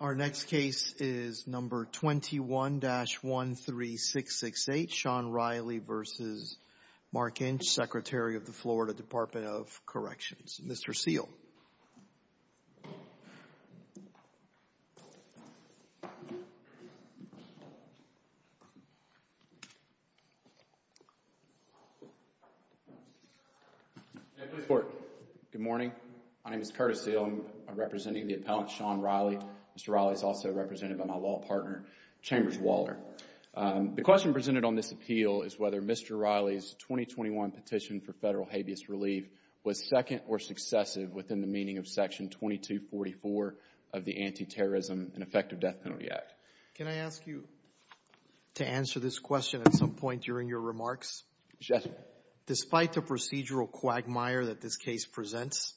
Our next case is No. 21-13668, Sean Reilly v. Mark Inch, Secretary of the Florida Department of Corrections. Mr. Seale. Mr. Seale Good morning. My name is Curtis Seale. I am representing the appellant Sean Reilly. Mr. Reilly is also represented by my law partner, Chambers Waller. The question is, can I ask you to answer this question at some point during your remarks? Yes. Despite the procedural quagmire that this case presents,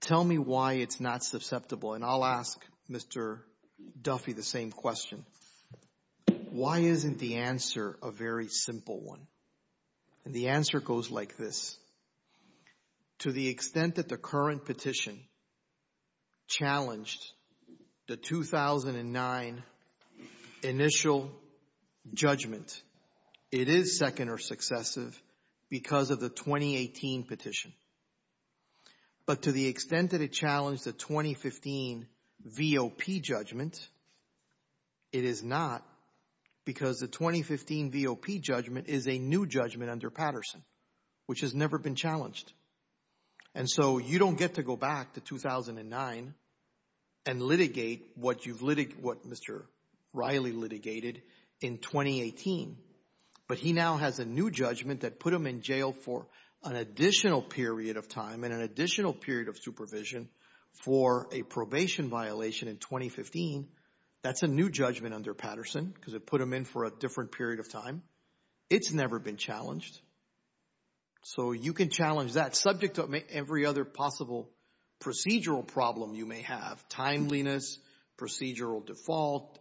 tell me why it's not susceptible? And I'll ask Mr. Duffy the same question. Why isn't the answer a very simple one? The answer goes like this. To the extent that the current petition challenged the 2009 initial judgment, it is second or successive because of the 2018 petition. But to the extent that it challenged the 2015 V.O.P. judgment, it is not because the 2015 V.O.P. judgment is a new judgment under Patterson, which has never been challenged. And so you don't get to go back to 2009 and litigate what Mr. Reilly litigated in 2018. But he now has a new judgment that put him in jail for an additional period of time and an additional period of supervision for a probation violation in 2015. That's a new judgment under Patterson because it put him in for a different period of time. It's never been challenged. So you can challenge that subject to every other possible procedural problem you may have. Timeliness, procedural default,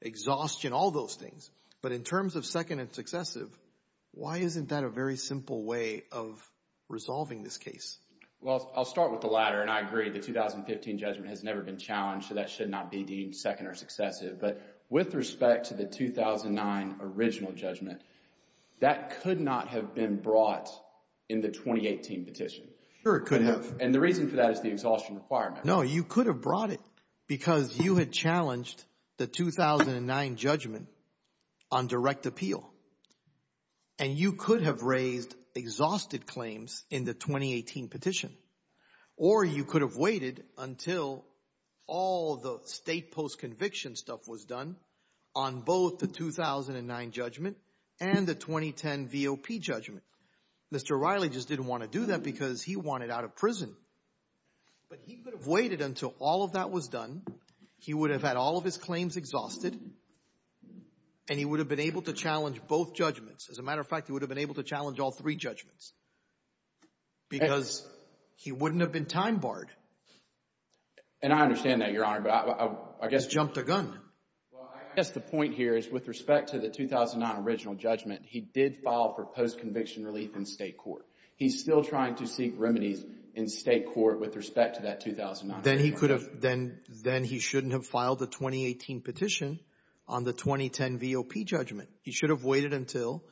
exhaustion, all those things. But in terms of second and successive, why isn't that a very simple way of resolving this case? Well, I'll start with the latter. And I agree, the 2015 judgment has never been challenged, so that should not be deemed second or successive. But with respect to the 2009 original judgment, that could not have been brought in the 2018 petition. Sure, it could have. And the reason for that is the exhaustion requirement. No, you could have brought it because you had challenged the 2009 judgment on direct appeal. And you could have raised exhausted claims in the 2018 petition. Or you could have waited until all the state post-conviction stuff was done on both the 2009 judgment and the 2010 VOP judgment. Mr. Reilly just didn't want to do that because he wanted out of prison. But he could have waited until all of that was done. He would have had all of his claims exhausted and he would have been able to challenge both judgments. As a matter of fact, he would have been able to challenge all three judgments because he wouldn't have been time-barred. And I understand that, Your Honor, but I guess... He's jumped the gun. Well, I guess the point here is with respect to the 2009 original judgment, he did file for post-conviction relief in state court. He's still trying to seek remedies in state court with respect to that 2009 original judgment. Then he shouldn't have filed the 2018 petition on the 2010 VOP judgment. He should have waited until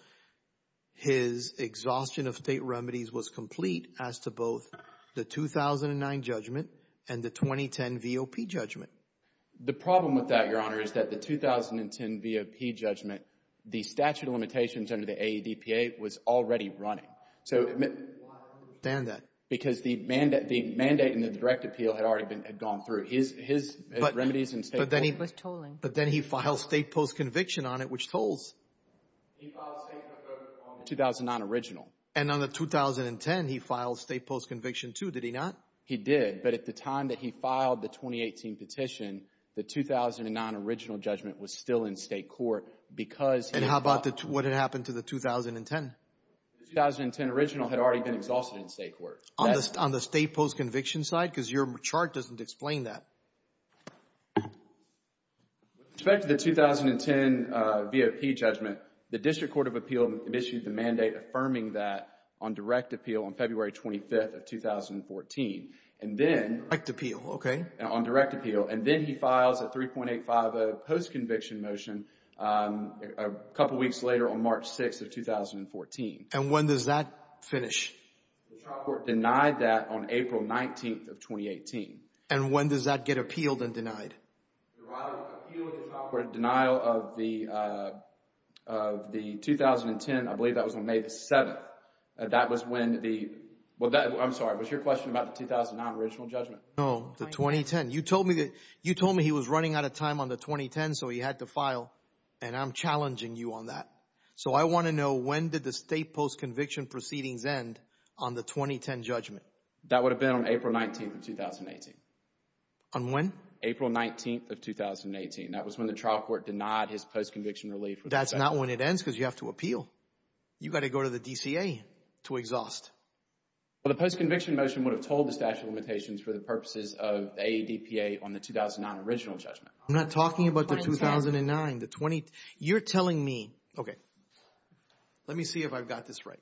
his exhaustion of state remedies was complete as to both the 2009 judgment and the 2010 VOP judgment. The problem with that, Your Honor, is that the 2010 VOP judgment, the statute of limitations under the AEDPA, was already running. So... I don't understand that. Because the mandate and the direct appeal had already gone through. His remedies in state court... But then he was tolling. But then he filed state post-conviction on it, which tolls. He filed state post-conviction on the 2009 original. And on the 2010, he filed state post-conviction too, did he not? He did, but at the time that he filed the 2018 petition, the 2009 original judgment was still in state court because he... And how about what had happened to the 2010? The 2010 original had already been exhausted in state court. On the state post-conviction side? Because your chart doesn't explain that. With respect to the 2010 VOP judgment, the District Court of Appeal had issued the mandate affirming that on direct appeal on February 25th of 2014. And then... Direct appeal, okay. On direct appeal. And then he files a 3.850 post-conviction motion a couple weeks later on March 6th of 2014. And when does that finish? The trial court denied that on April 19th of 2018. And when does that get appealed and denied? The trial court appealed the trial court denial of the 2010, I believe that was on May 7th. That was when the... I'm sorry, was your question about the 2009 original judgment? No, the 2010. You told me that he was running out of time on the 2010, so he had to file. And I'm challenging you on that. So I want to know when did the state post-conviction proceedings end on the 2010 judgment? That would have been on April 19th of 2018. On when? April 19th of 2018. That was when the trial court denied his post-conviction relief. That's not when it ends because you have to appeal. You got to go to the DCA to exhaust. Well, the post-conviction motion would have told the statute of limitations for the purposes of the AEDPA on the 2009 original judgment. I'm not talking about the 2009, the 20... You're telling me, okay, let me see if I've got this right.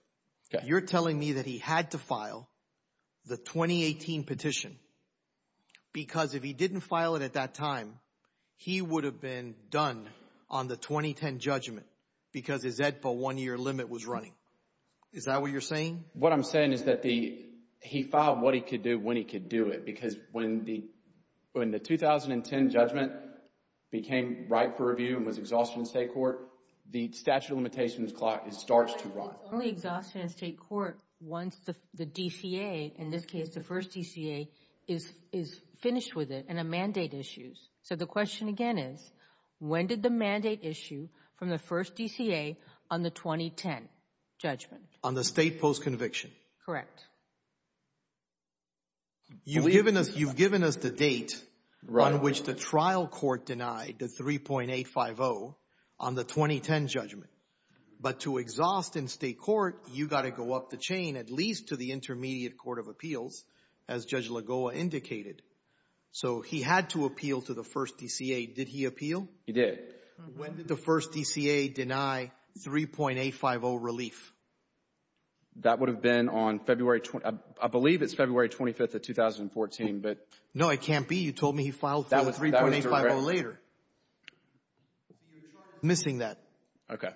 You're telling me that he had to file the 2018 petition because if he didn't file it at that time, he would have been done on the 2010 judgment because his EDPA one-year limit was running. Is that what you're saying? What I'm saying is that he filed what he could do when he could do it because when the 2010 judgment became ripe for review and was exhausted in state court, the statute of limitations starts to run. It's only exhausted in state court once the DCA, in this case the first DCA, is finished with it and a mandate issues. So the question again is, when did the mandate issue from the first DCA on the 2010 judgment? On the state post-conviction. Correct. You've given us the date on which the trial court denied the 3.850 on the 2010 judgment, but to exhaust in state court, you've got to go up the chain at least to the intermediate court of appeals, as Judge Lagoa indicated. So he had to appeal to the first DCA. Did he appeal? He did. When did the first DCA deny 3.850 relief? That would have been on February, I believe it's February 25th of 2014, but. No, it can't be. You told me he filed 3.850 later. Missing that. Okay.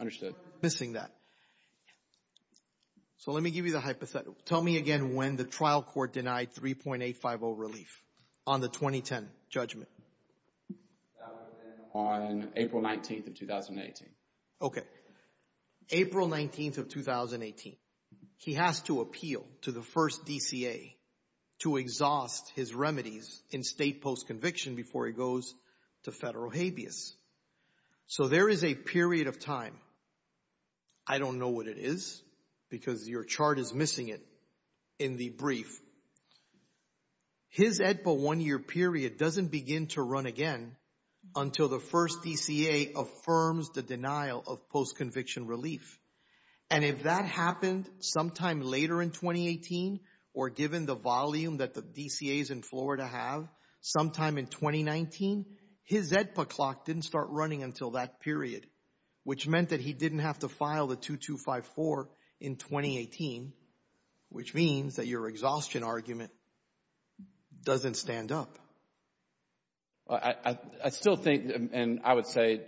Understood. Missing that. So let me give you the hypothetical. Tell me again when the trial court denied 3.850 relief on the 2010 judgment. That would have been on April 19th of 2018. Okay. April 19th of 2018. He has to appeal to the first DCA to exhaust his remedies in state post-conviction before he goes to federal habeas. So there is a period of time. I don't know what it is because your chart is missing it in the brief. His EDPA one-year period doesn't begin to run again until the first DCA affirms the denial of post-conviction relief. And if that happened sometime later in 2018 or given the volume that the DCAs in Florida have sometime in 2019, his EDPA clock didn't start running until that period, which meant that he didn't have to file the 2254 in 2018, which means that your exhaustion argument doesn't stand up. I still think, and I would say,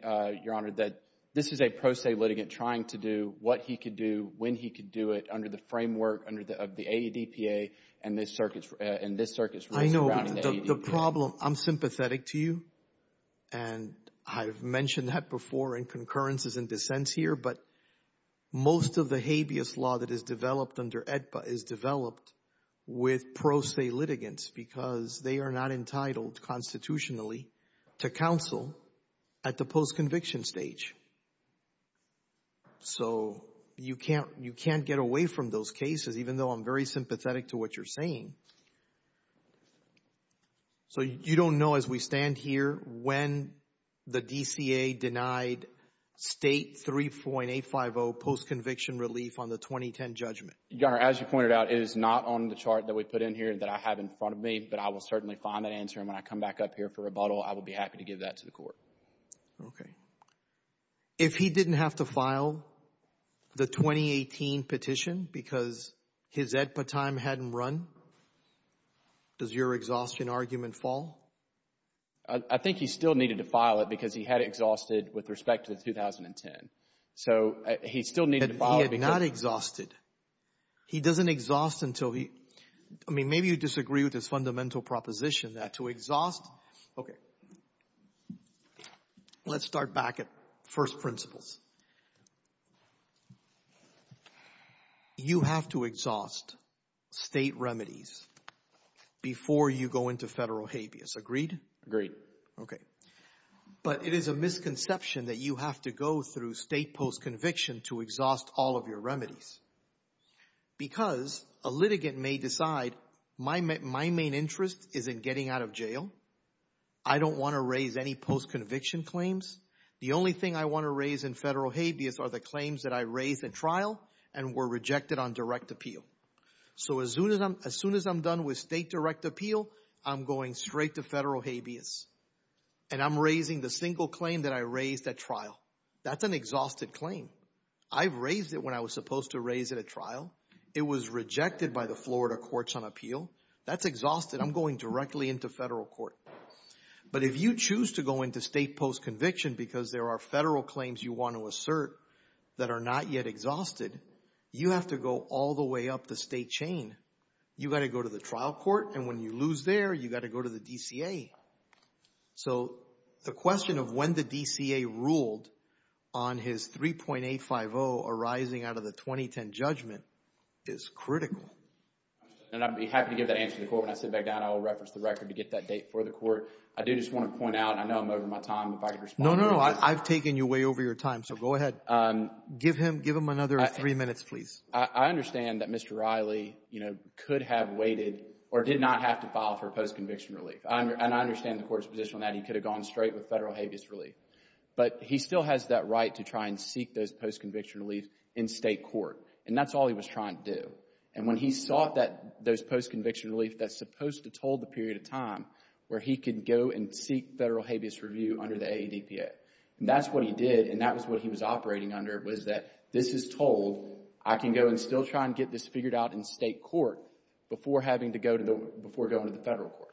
Your Honor, that this is a pro se litigant trying to do what he could do, when he could do it under the framework of the EDPA and this circuit's rules surrounding the EDPA. I know, but the problem, I'm sympathetic to you, and I've mentioned that before in concurrences and dissents here, but most of the habeas law that is developed under EDPA is developed with pro se litigants because they are not entitled constitutionally to counsel at the post-conviction stage. So you can't get away from those cases, even though I'm very sympathetic to what you're saying. So, you don't know, as we stand here, when the DCA denied State 3.850 post-conviction relief on the 2010 judgment? Your Honor, as you pointed out, it is not on the chart that we put in here that I have in front of me, but I will certainly find that answer, and when I come back up here for rebuttal, I will be happy to give that to the court. Okay. If he didn't have to file the 2018 petition because his EDPA time hadn't run, does your exhaustion argument fall? I think he still needed to file it because he had exhausted with respect to the 2010. So he still needed to file it because... But he had not exhausted. He doesn't exhaust until he... I mean, maybe you disagree with his fundamental proposition that to exhaust... Okay. Let's start back at first principles. You have to exhaust state remedies before you go into federal habeas. Agreed? Agreed. Okay. But it is a misconception that you have to go through state post-conviction to exhaust all of your remedies because a litigant may decide, my main interest is in getting out of jail. I don't want to raise any post-conviction claims. The only thing I want to raise in federal habeas are the claims that I raised at trial and were rejected on direct appeal. So as soon as I'm done with state direct appeal, I'm going straight to federal habeas, and I'm raising the single claim that I raised at trial. That's an exhausted claim. I've raised it when I was supposed to raise it at trial. It was rejected by the Florida Courts on Appeal. That's exhausted. I'm going directly into federal court. But if you choose to go into state post-conviction because there are federal claims you want to assert that are not yet exhausted, you have to go all the way up the state chain. You got to go to the trial court, and when you lose there, you got to go to the DCA. So the question of when the DCA ruled on his 3.850 arising out of the 2010 judgment is critical. And I'd be happy to give that answer to the court. When I sit back down, I will reference the record to get that date for the court. I do just want to point out, and I know I'm over my time, if I could respond to that. No, no, no. I've taken you way over your time. So go ahead. Give him another three minutes, please. I understand that Mr. Riley, you know, could have waited or did not have to file for post-conviction relief. And I understand the court's position on that. He could have gone straight with federal habeas relief. But he still has that right to try and seek those post-conviction relief in state court. And that's all he was trying to do. And when he sought that, those post-conviction relief that's supposed to toll the period of time where he could go and seek federal habeas review under the AADPA. That's what he did. And that was what he was operating under, was that this is told. I can go and still try and get this figured out in state court before having to go to the, before going to the federal court.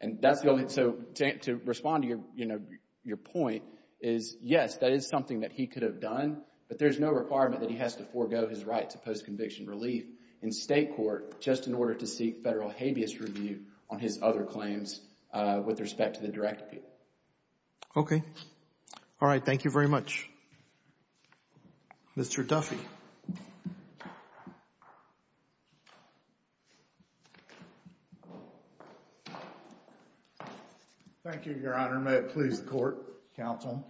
And that's the only, so to respond to your, you know, your point is, yes, that is something that he could have done, but there's no requirement that he has to forego his right to post-conviction relief in state court just in order to seek federal habeas review on his other claims with respect to the direct appeal. Okay. All right. Thank you very much. Mr. Duffy. May it please the court, counsel.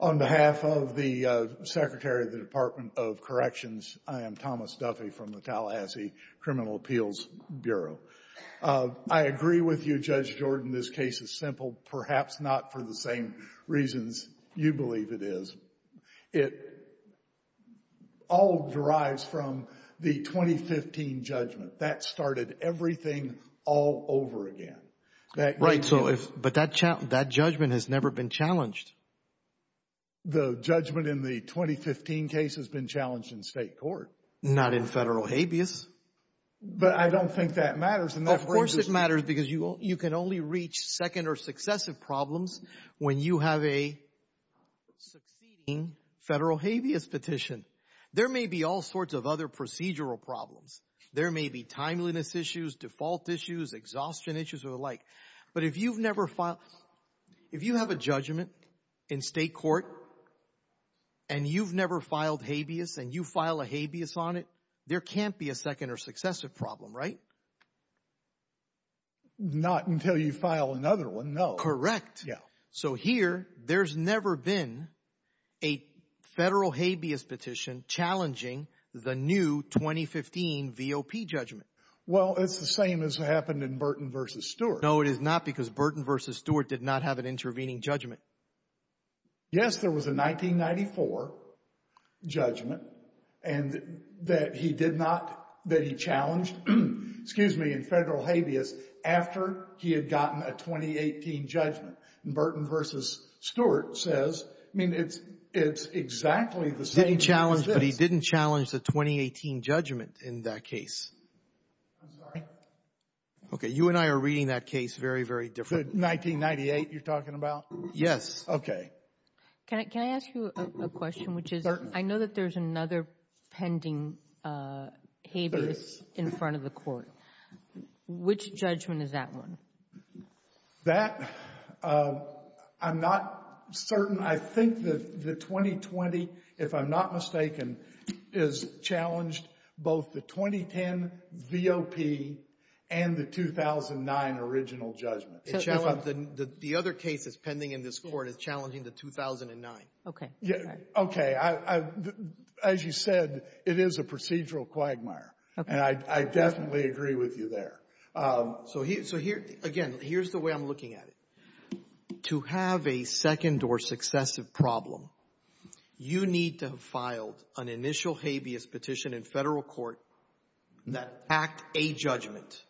On behalf of the Secretary of the Department of Corrections, I am Thomas Duffy from the Tallahassee Criminal Appeals Bureau. I agree with you, Judge Jordan, this case is simple, perhaps not for the same reasons you believe it is. It all derives from the 2015 judgment. That started everything all over again. Right, so if, but that judgment has never been challenged. The judgment in the 2015 case has been challenged in state court. Not in federal habeas. But I don't think that matters. Of course it matters because you can only reach second or successive problems when you have a succeeding federal habeas petition. There may be all sorts of other procedural problems. There may be timeliness issues, default issues, exhaustion issues or the like. But if you've never filed, if you have a judgment in state court and you've never filed habeas and you file a habeas on it, there can't be a second or successive problem, right? Not until you file another one, no. Correct. So here, there's never been a federal habeas petition challenging the new 2015 V.O.P. judgment. Well, it's the same as happened in Burton v. Stewart. No, it is not because Burton v. Stewart did not have an intervening judgment. Yes, there was a 1994 judgment and that he did not, that he challenged, excuse me, in that 2018 judgment. Burton v. Stewart says, I mean, it's exactly the same as this. He didn't challenge, but he didn't challenge the 2018 judgment in that case. I'm sorry? Okay. You and I are reading that case very, very differently. The 1998 you're talking about? Yes. Okay. Can I ask you a question, which is I know that there's another pending habeas in front of the court. Which judgment is that one? That, I'm not certain. I think the 2020, if I'm not mistaken, is challenged both the 2010 V.O.P. and the 2009 original judgment. The other case that's pending in this Court is challenging the 2009. Okay. Okay. As you said, it is a procedural quagmire. Okay. And I definitely agree with you there. So here, again, here's the way I'm looking at it. To have a second or successive problem, you need to have filed an initial habeas petition in Federal court that attacked a judgment.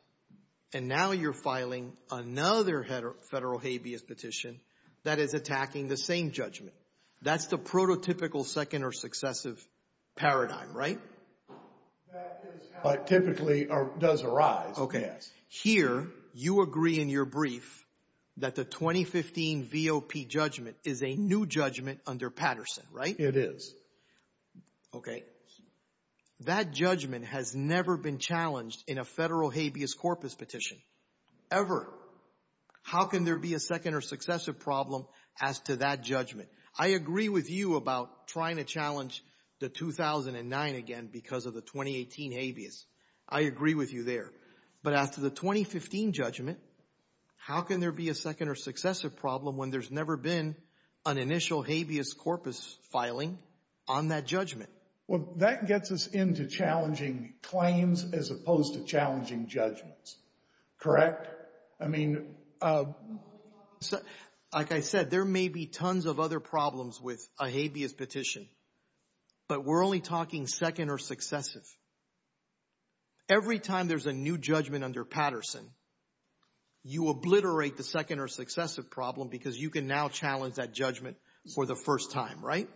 And now you're filing another Federal habeas petition that is attacking the same judgment. Okay. That's the prototypical second or successive paradigm, right? That is how it typically does arise, yes. Okay. Here, you agree in your brief that the 2015 V.O.P. judgment is a new judgment under Patterson, right? It is. Okay. That judgment has never been challenged in a Federal habeas corpus petition, ever. How can there be a second or successive problem as to that judgment? I agree with you about trying to challenge the 2009 again because of the 2018 habeas. I agree with you there. But after the 2015 judgment, how can there be a second or successive problem when there's never been an initial habeas corpus filing on that judgment? Well, that gets us into challenging claims as opposed to challenging judgments. Correct? Correct. I mean — Like I said, there may be tons of other problems with a habeas petition, but we're only talking second or successive. Every time there's a new judgment under Patterson, you obliterate the second or successive problem because you can now challenge that judgment for the first time, right?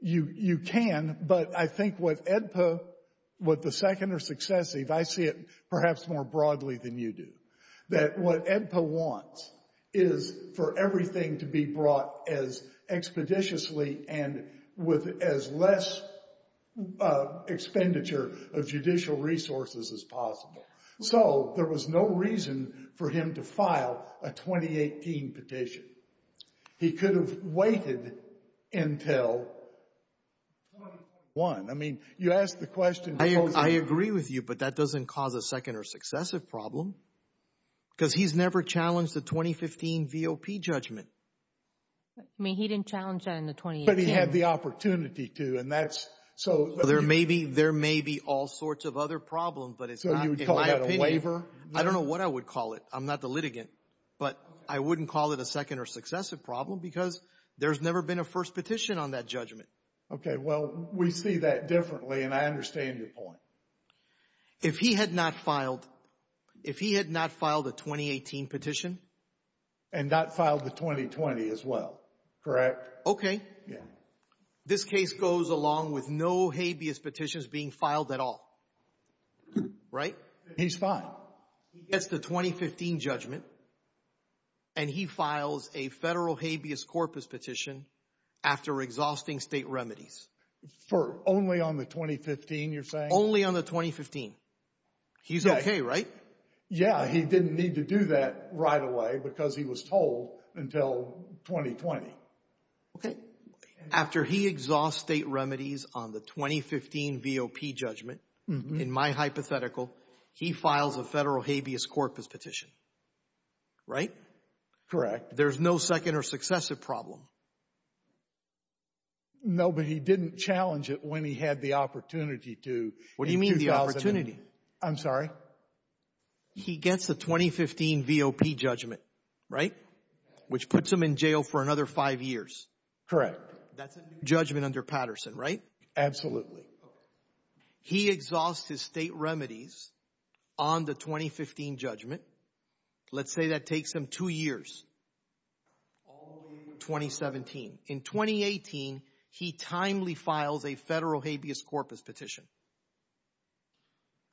You can, but I think with AEDPA, with the second or successive, I see it perhaps more broadly than you do, that what AEDPA wants is for everything to be brought as expeditiously and with as less expenditure of judicial resources as possible. So there was no reason for him to file a 2018 petition. He could have waited until 2021. I mean, you asked the question — I agree with you, but that doesn't cause a second or successive problem. Because he's never challenged a 2015 VOP judgment. I mean, he didn't challenge that in the 2018. But he had the opportunity to, and that's — There may be all sorts of other problems, but it's not — So you would call that a waiver? I don't know what I would call it. I'm not the litigant, but I wouldn't call it a second or successive problem because there's never been a first petition on that judgment. Okay, well, we see that differently, and I understand your point. If he had not filed a 2018 petition — And not filed the 2020 as well, correct? Okay. Yeah. This case goes along with no habeas petitions being filed at all, right? He's fine. He gets the 2015 judgment, and he files a federal habeas corpus petition after exhausting state remedies. For only on the 2015, you're saying? Only on the 2015. He's okay, right? Yeah, he didn't need to do that right away because he was told until 2020. Okay. After he exhausts state remedies on the 2015 VOP judgment, in my hypothetical, he files a federal habeas corpus petition, right? Correct. There's no second or successive problem. No, but he didn't challenge it when he had the opportunity to in 2008. What do you mean the opportunity? I'm sorry? He gets the 2015 VOP judgment, right? Which puts him in jail for another five years. Correct. That's a new judgment under Patterson, right? Absolutely. Okay. He exhausts his state remedies on the 2015 judgment. Let's say that takes him two years. All the way to 2017. In 2018, he timely files a federal habeas corpus petition.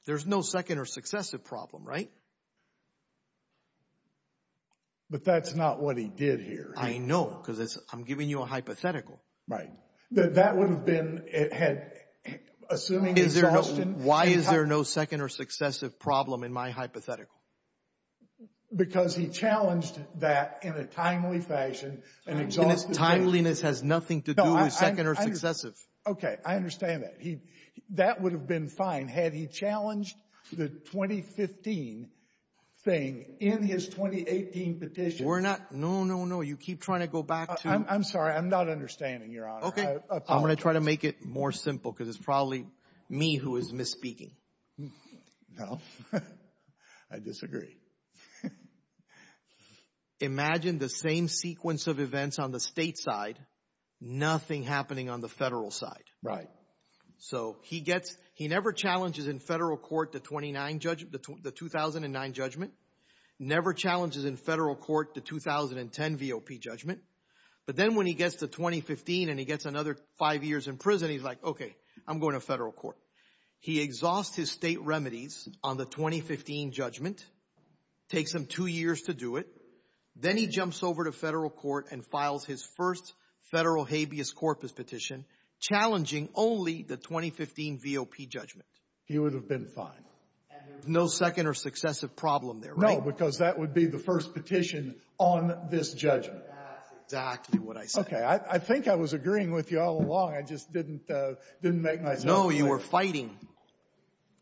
There's no second or successive problem, right? But that's not what he did here. I know because I'm giving you a hypothetical. Right. That would have been... Why is there no second or successive problem in my hypothetical? Because he challenged that in a timely fashion. Timeliness has nothing to do with second or successive. Okay. I understand that. That would have been fine had he challenged the 2015 thing in his 2018 petition. We're not... No, no, no. You keep trying to go back to... I'm sorry. I'm not understanding, Your Honor. Okay. I'm going to try to make it more simple because it's probably me who is misspeaking. No. I disagree. Imagine the same sequence of events on the state side. Nothing happening on the federal side. Right. So he never challenges in federal court the 2009 judgment. Never challenges in federal court the 2010 VOP judgment. But then when he gets to 2015 and he gets another five years in prison, he's like, okay, I'm going to federal court. He exhausts his state remedies on the 2015 judgment. Takes him two years to do it. Then he jumps over to federal court and files his first federal habeas corpus petition challenging only the 2015 VOP judgment. He would have been fine. No second or successive problem there, right? No, because that would be the first petition on this judgment. That's exactly what I said. Okay. I think I was agreeing with you all along. I just didn't make myself clear. No. You were fighting.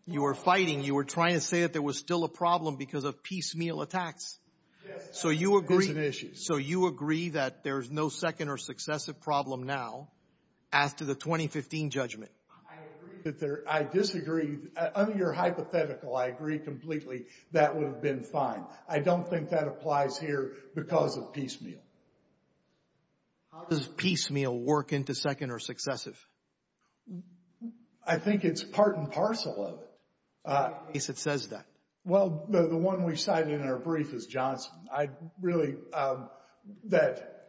You were fighting. You were trying to say that there was still a problem because of piecemeal attacks. Yes. That's an issue. So you agree that there's no second or successive problem now as to the 2015 judgment. I disagree. Under your hypothetical, I agree completely. That would have been fine. I don't think that applies here because of piecemeal. How does piecemeal work into second or successive? I think it's part and parcel of it. In case it says that. Well, the one we cited in our brief is Johnson. I really, that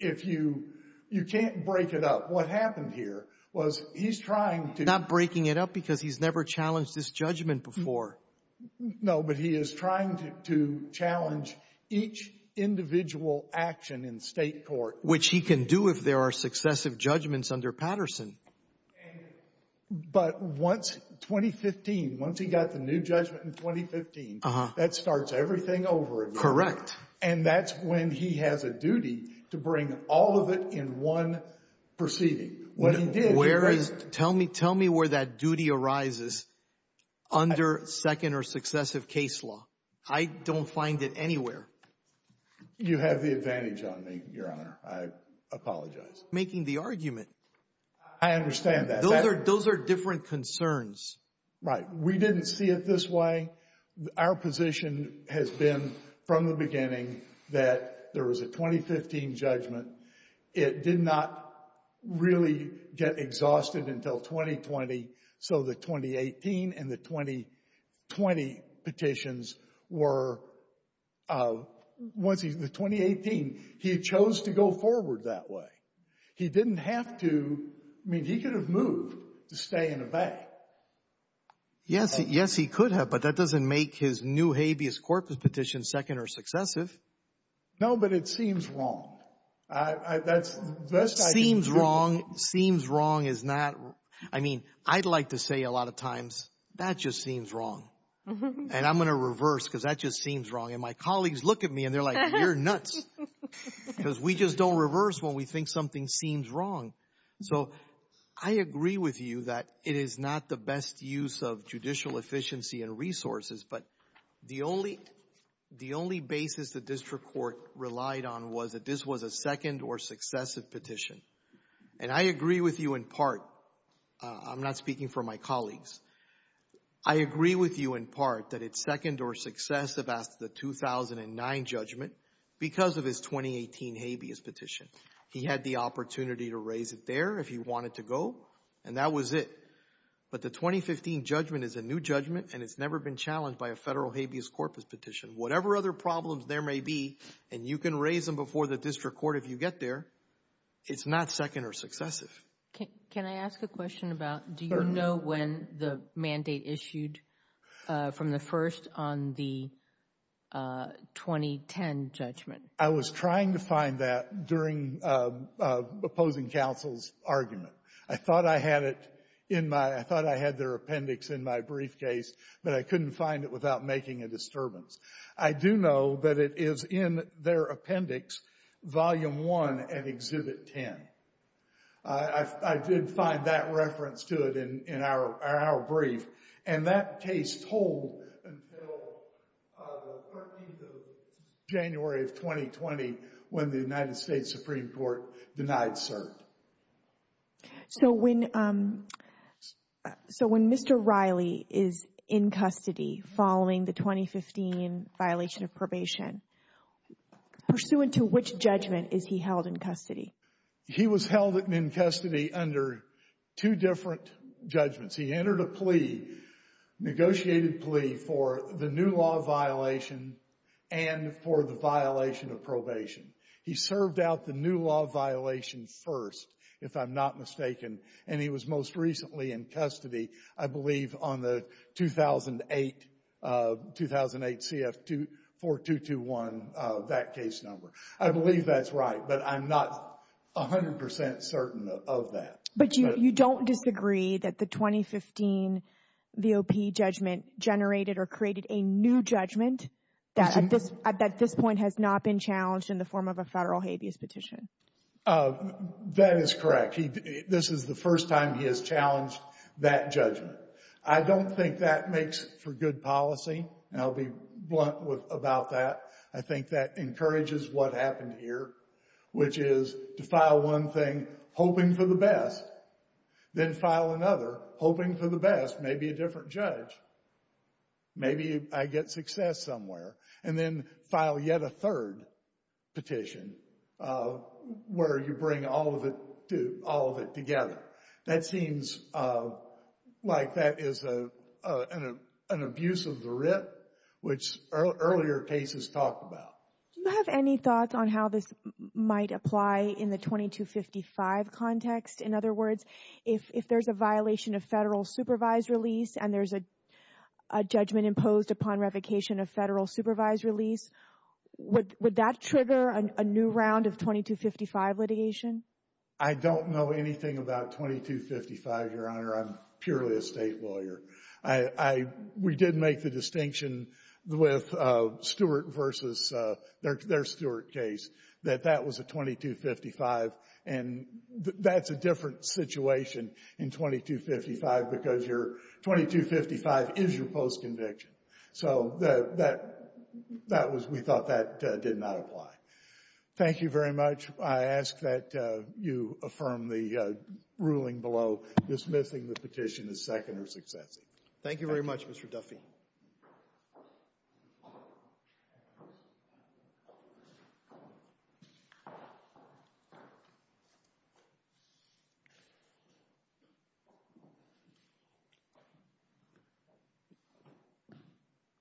if you, you can't break it up. What happened here was he's trying to Not breaking it up because he's never challenged this judgment before. No, but he is trying to challenge each individual action in state court which he can do if there are successive judgments under Patterson. But once 2015, once he got the new judgment in 2015, that starts everything over again. Correct. And that's when he has a duty to bring all of it in one proceeding. What he did Tell me where that duty arises under second or successive case law. I don't find it anywhere. You have the advantage on me, Your Honor. I apologize. Making the argument. I understand that. Those are different concerns. Right. We didn't see it this way. Our position has been from the beginning that there was a 2015 judgment. It did not really get exhausted until 2020. So the 2018 and the 2020 petitions were Once he, the 2018, he chose to go forward that way. He didn't have to. I mean, he could have moved to stay in evade. Yes, yes, he could have. But that doesn't make his new habeas corpus petition second or successive. No, but it seems wrong. That's, that's Seems wrong, seems wrong is not I mean, I'd like to say a lot of times that just seems wrong. And I'm going to reverse because that just seems wrong. And my colleagues look at me and they're like, you're nuts. Because we just don't reverse when we think something seems wrong. So I agree with you that it is not the best use of judicial efficiency and resources. But the only, the only basis the district court relied on was that this was a second or successive petition. And I agree with you in part. I'm not speaking for my colleagues. I agree with you in part that it's second or successive after the 2009 judgment because of his 2018 habeas petition. He had the opportunity to raise it there if he wanted to go. And that was it. But the 2015 judgment is a new judgment. And it's never been challenged by a federal habeas corpus petition. Whatever other problems there may be. And you can raise them before the district court if you get there. It's not second or successive. Can I ask a question about, do you know when the mandate issued from the first on the 2010 judgment? I was trying to find that during opposing counsel's argument. I thought I had it in my, I thought I had their appendix in my briefcase, but I couldn't find it without making a disturbance. I do know that it is in their appendix, Volume 1 at Exhibit 10. I did find that reference to it in our brief. And that case told until the 13th of January of 2020 when the United States Supreme Court denied cert. So when Mr. Riley is in custody following the 2015 violation of probation, pursuant to which judgment is he held in custody? He was held in custody under two different judgments. He entered a plea, negotiated plea for the new law violation and for the violation of probation. He served out the new law violation first, And he was most recently in custody, I believe, on the 2008 CF-4221, that case number. I believe that's right, but I'm not 100% certain of that. But you don't disagree that the 2015 VOP judgment generated or created a new judgment that at this point has not been challenged in the form of a federal habeas petition? That is correct. This is the first time he has challenged that judgment. I don't think that makes for good policy. And I'll be blunt about that. I think that encourages what happened here, which is to file one thing, hoping for the best, then file another, hoping for the best, maybe a different judge. Maybe I get success somewhere. And then file yet a third petition where you bring all of it together. That seems like that is an abuse of the writ, which earlier cases talked about. Do you have any thoughts on how this might apply in the 2255 context? In other words, if there's a violation of federal supervised release and there's a judgment imposed upon revocation of federal supervised release, would that trigger a new round of 2255 litigation? I don't know anything about 2255, Your Honor. I'm purely a state lawyer. We did make the distinction with Stewart versus their Stewart case that that was a 2255. And that's a different situation in 2255 because your 2255 is your post-conviction. So we thought that did not apply. Thank you very much. I ask that you affirm the ruling below dismissing the petition as second or successive. Thank you very much, Mr. Duffy.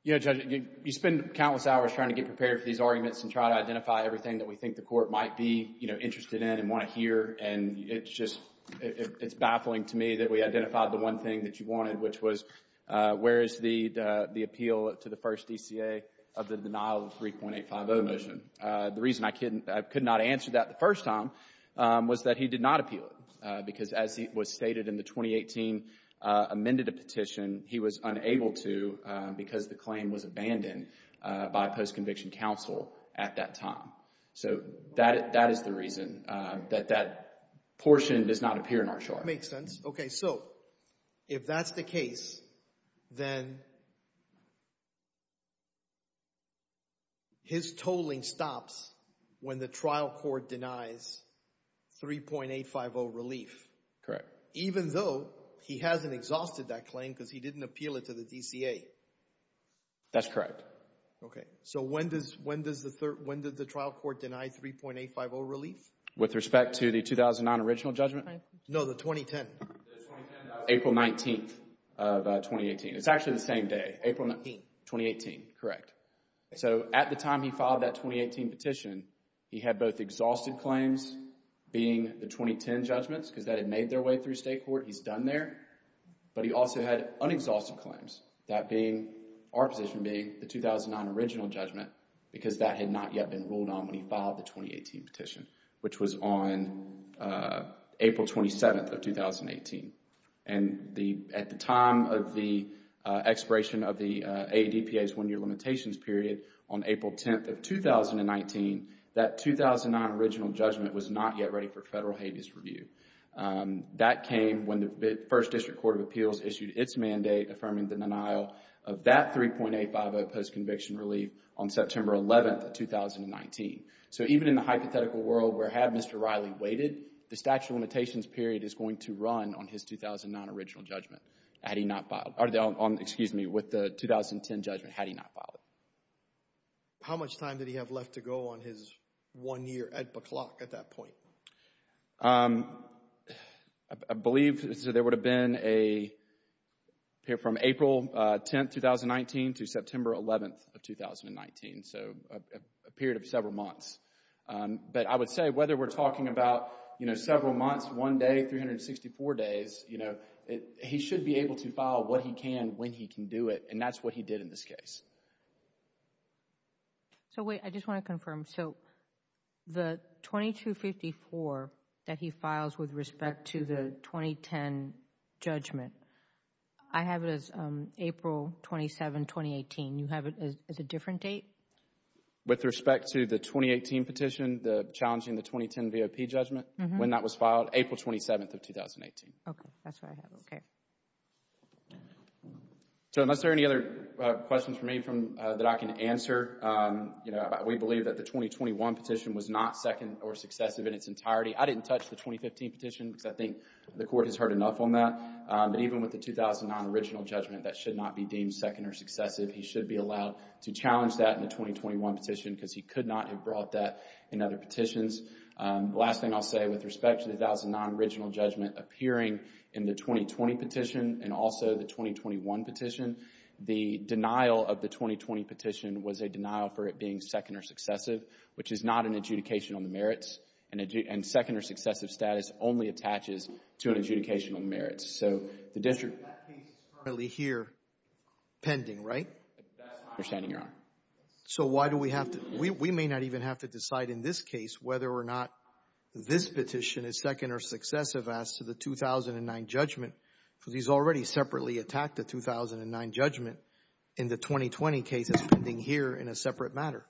You know, Judge, you spend countless hours trying to get prepared for these arguments and try to identify everything that we think the court might be, you know, interested in and want to hear. And it's just, it's baffling to me that we identified the one thing that you wanted, which was, where is the appeal to the first DCA of the denial of the 3.850 motion? The reason I couldn't, I could not answer that the first time was that he did not appeal it because as was stated in the 2018, amended a petition, he was unable to because the claim was abandoned by post-conviction counsel at that time. So that, that is the reason that that portion does not appear in our charge. Makes sense. Okay. So if that's the case, then his tolling stops when the trial court denies 3.850 relief. Correct. Even though he hasn't exhausted that claim because he didn't appeal it to the DCA. That's correct. Okay. So when does, when does the trial court deny 3.850 relief? With respect to the 2009 original judgment? No, the 2010. April 19th of 2018. It's actually the same day. April 19th. 2018. Correct. So at the time he filed that 2018 petition, he had both exhausted claims being the 2010 judgments because that had made their way through state court. He's done there. But he also had unexhausted claims. That being, our position being, the 2009 original judgment because that had not yet been ruled on when he filed the 2018 petition, which was on April 27th of 2018. And the, at the time of the expiration of the AADPA's one-year limitations period on April 10th of 2019, that 2009 original judgment was not yet ready for federal habeas review. That came when the First District Court of Appeals issued its mandate affirming the denial of that 3.850 post-conviction relief on September 11th of 2019. So even in the hypothetical world where had Mr. Riley waited, the statute of limitations period is going to run on his 2009 original judgment had he not filed, or the, excuse me, with the 2010 judgment had he not filed it. How much time did he have left to go on his one-year AADPA clock at that point? Um, I believe there would have been a period from April 10th, 2019 to September 11th of 2019. So, a period of several months. But I would say whether we're talking about you know, several months, one day, 364 days, you know, he should be able to file what he can, when he can do it. And that's what he did in this case. So wait, I just want to confirm. So, the 2254 that he files with respect to the 2010 judgment, I have it as um, April 27, 2018. You have it as a different date? With respect to the 2018 petition, the challenging the 2010 V.O.P. judgment? Mm-hmm. When that was filed? April 27th of 2018. Okay. That's what I have. Okay. So, unless there are any other questions for me from, that I can answer, um, you know, we believe that the 2021 petition was not second or successive in its entirety. I didn't touch the 2015 petition because I think the court has heard enough on that. Um, but even with the 2009 original judgment, that should not be deemed second or successive. He should be allowed to challenge that in the 2021 petition because he could not have brought that in other petitions. Um, last thing I'll say with respect to the 2009 original judgment appearing in the 2020 petition and also the denial for it being second or successive which is not an adjudication on the merits and second or successive status only attaches to an adjudication on the merits. So, the district That case is currently here pending, right? That's my understanding, Your Honor. So, why do we have to, we may not even have to decide in this case whether or not this petition is second or successive as to the 2009 judgment because he's already separately attacked the 2009 judgment in the 2020 case that's pending here in a separate matter?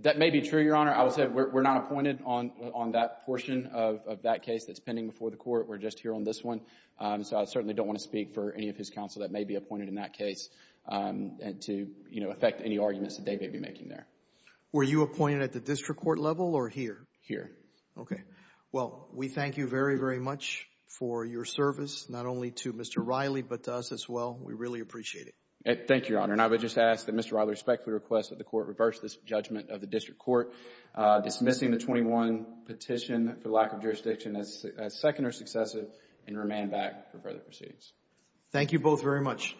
That may be true, Your Honor. I will say we're not appointed on that portion of that case that's pending before the court. We're just here on this one. So, I certainly don't want to speak for any of his counsel that may be appointed in that case to, you know, affect any arguments that they may be making there. Were you appointed at the district court level or here? Here. Okay. Well, we thank you very, very much for your service not only to Mr. Riley but to us as well. We really appreciate it. Thank you, Your Honor. And I would just ask that Mr. Riley respectfully request that the court reverse this judgment of the district court dismissing the 21 petition for lack of jurisdiction as second or successive and remain back for further proceedings. Thank you both very much.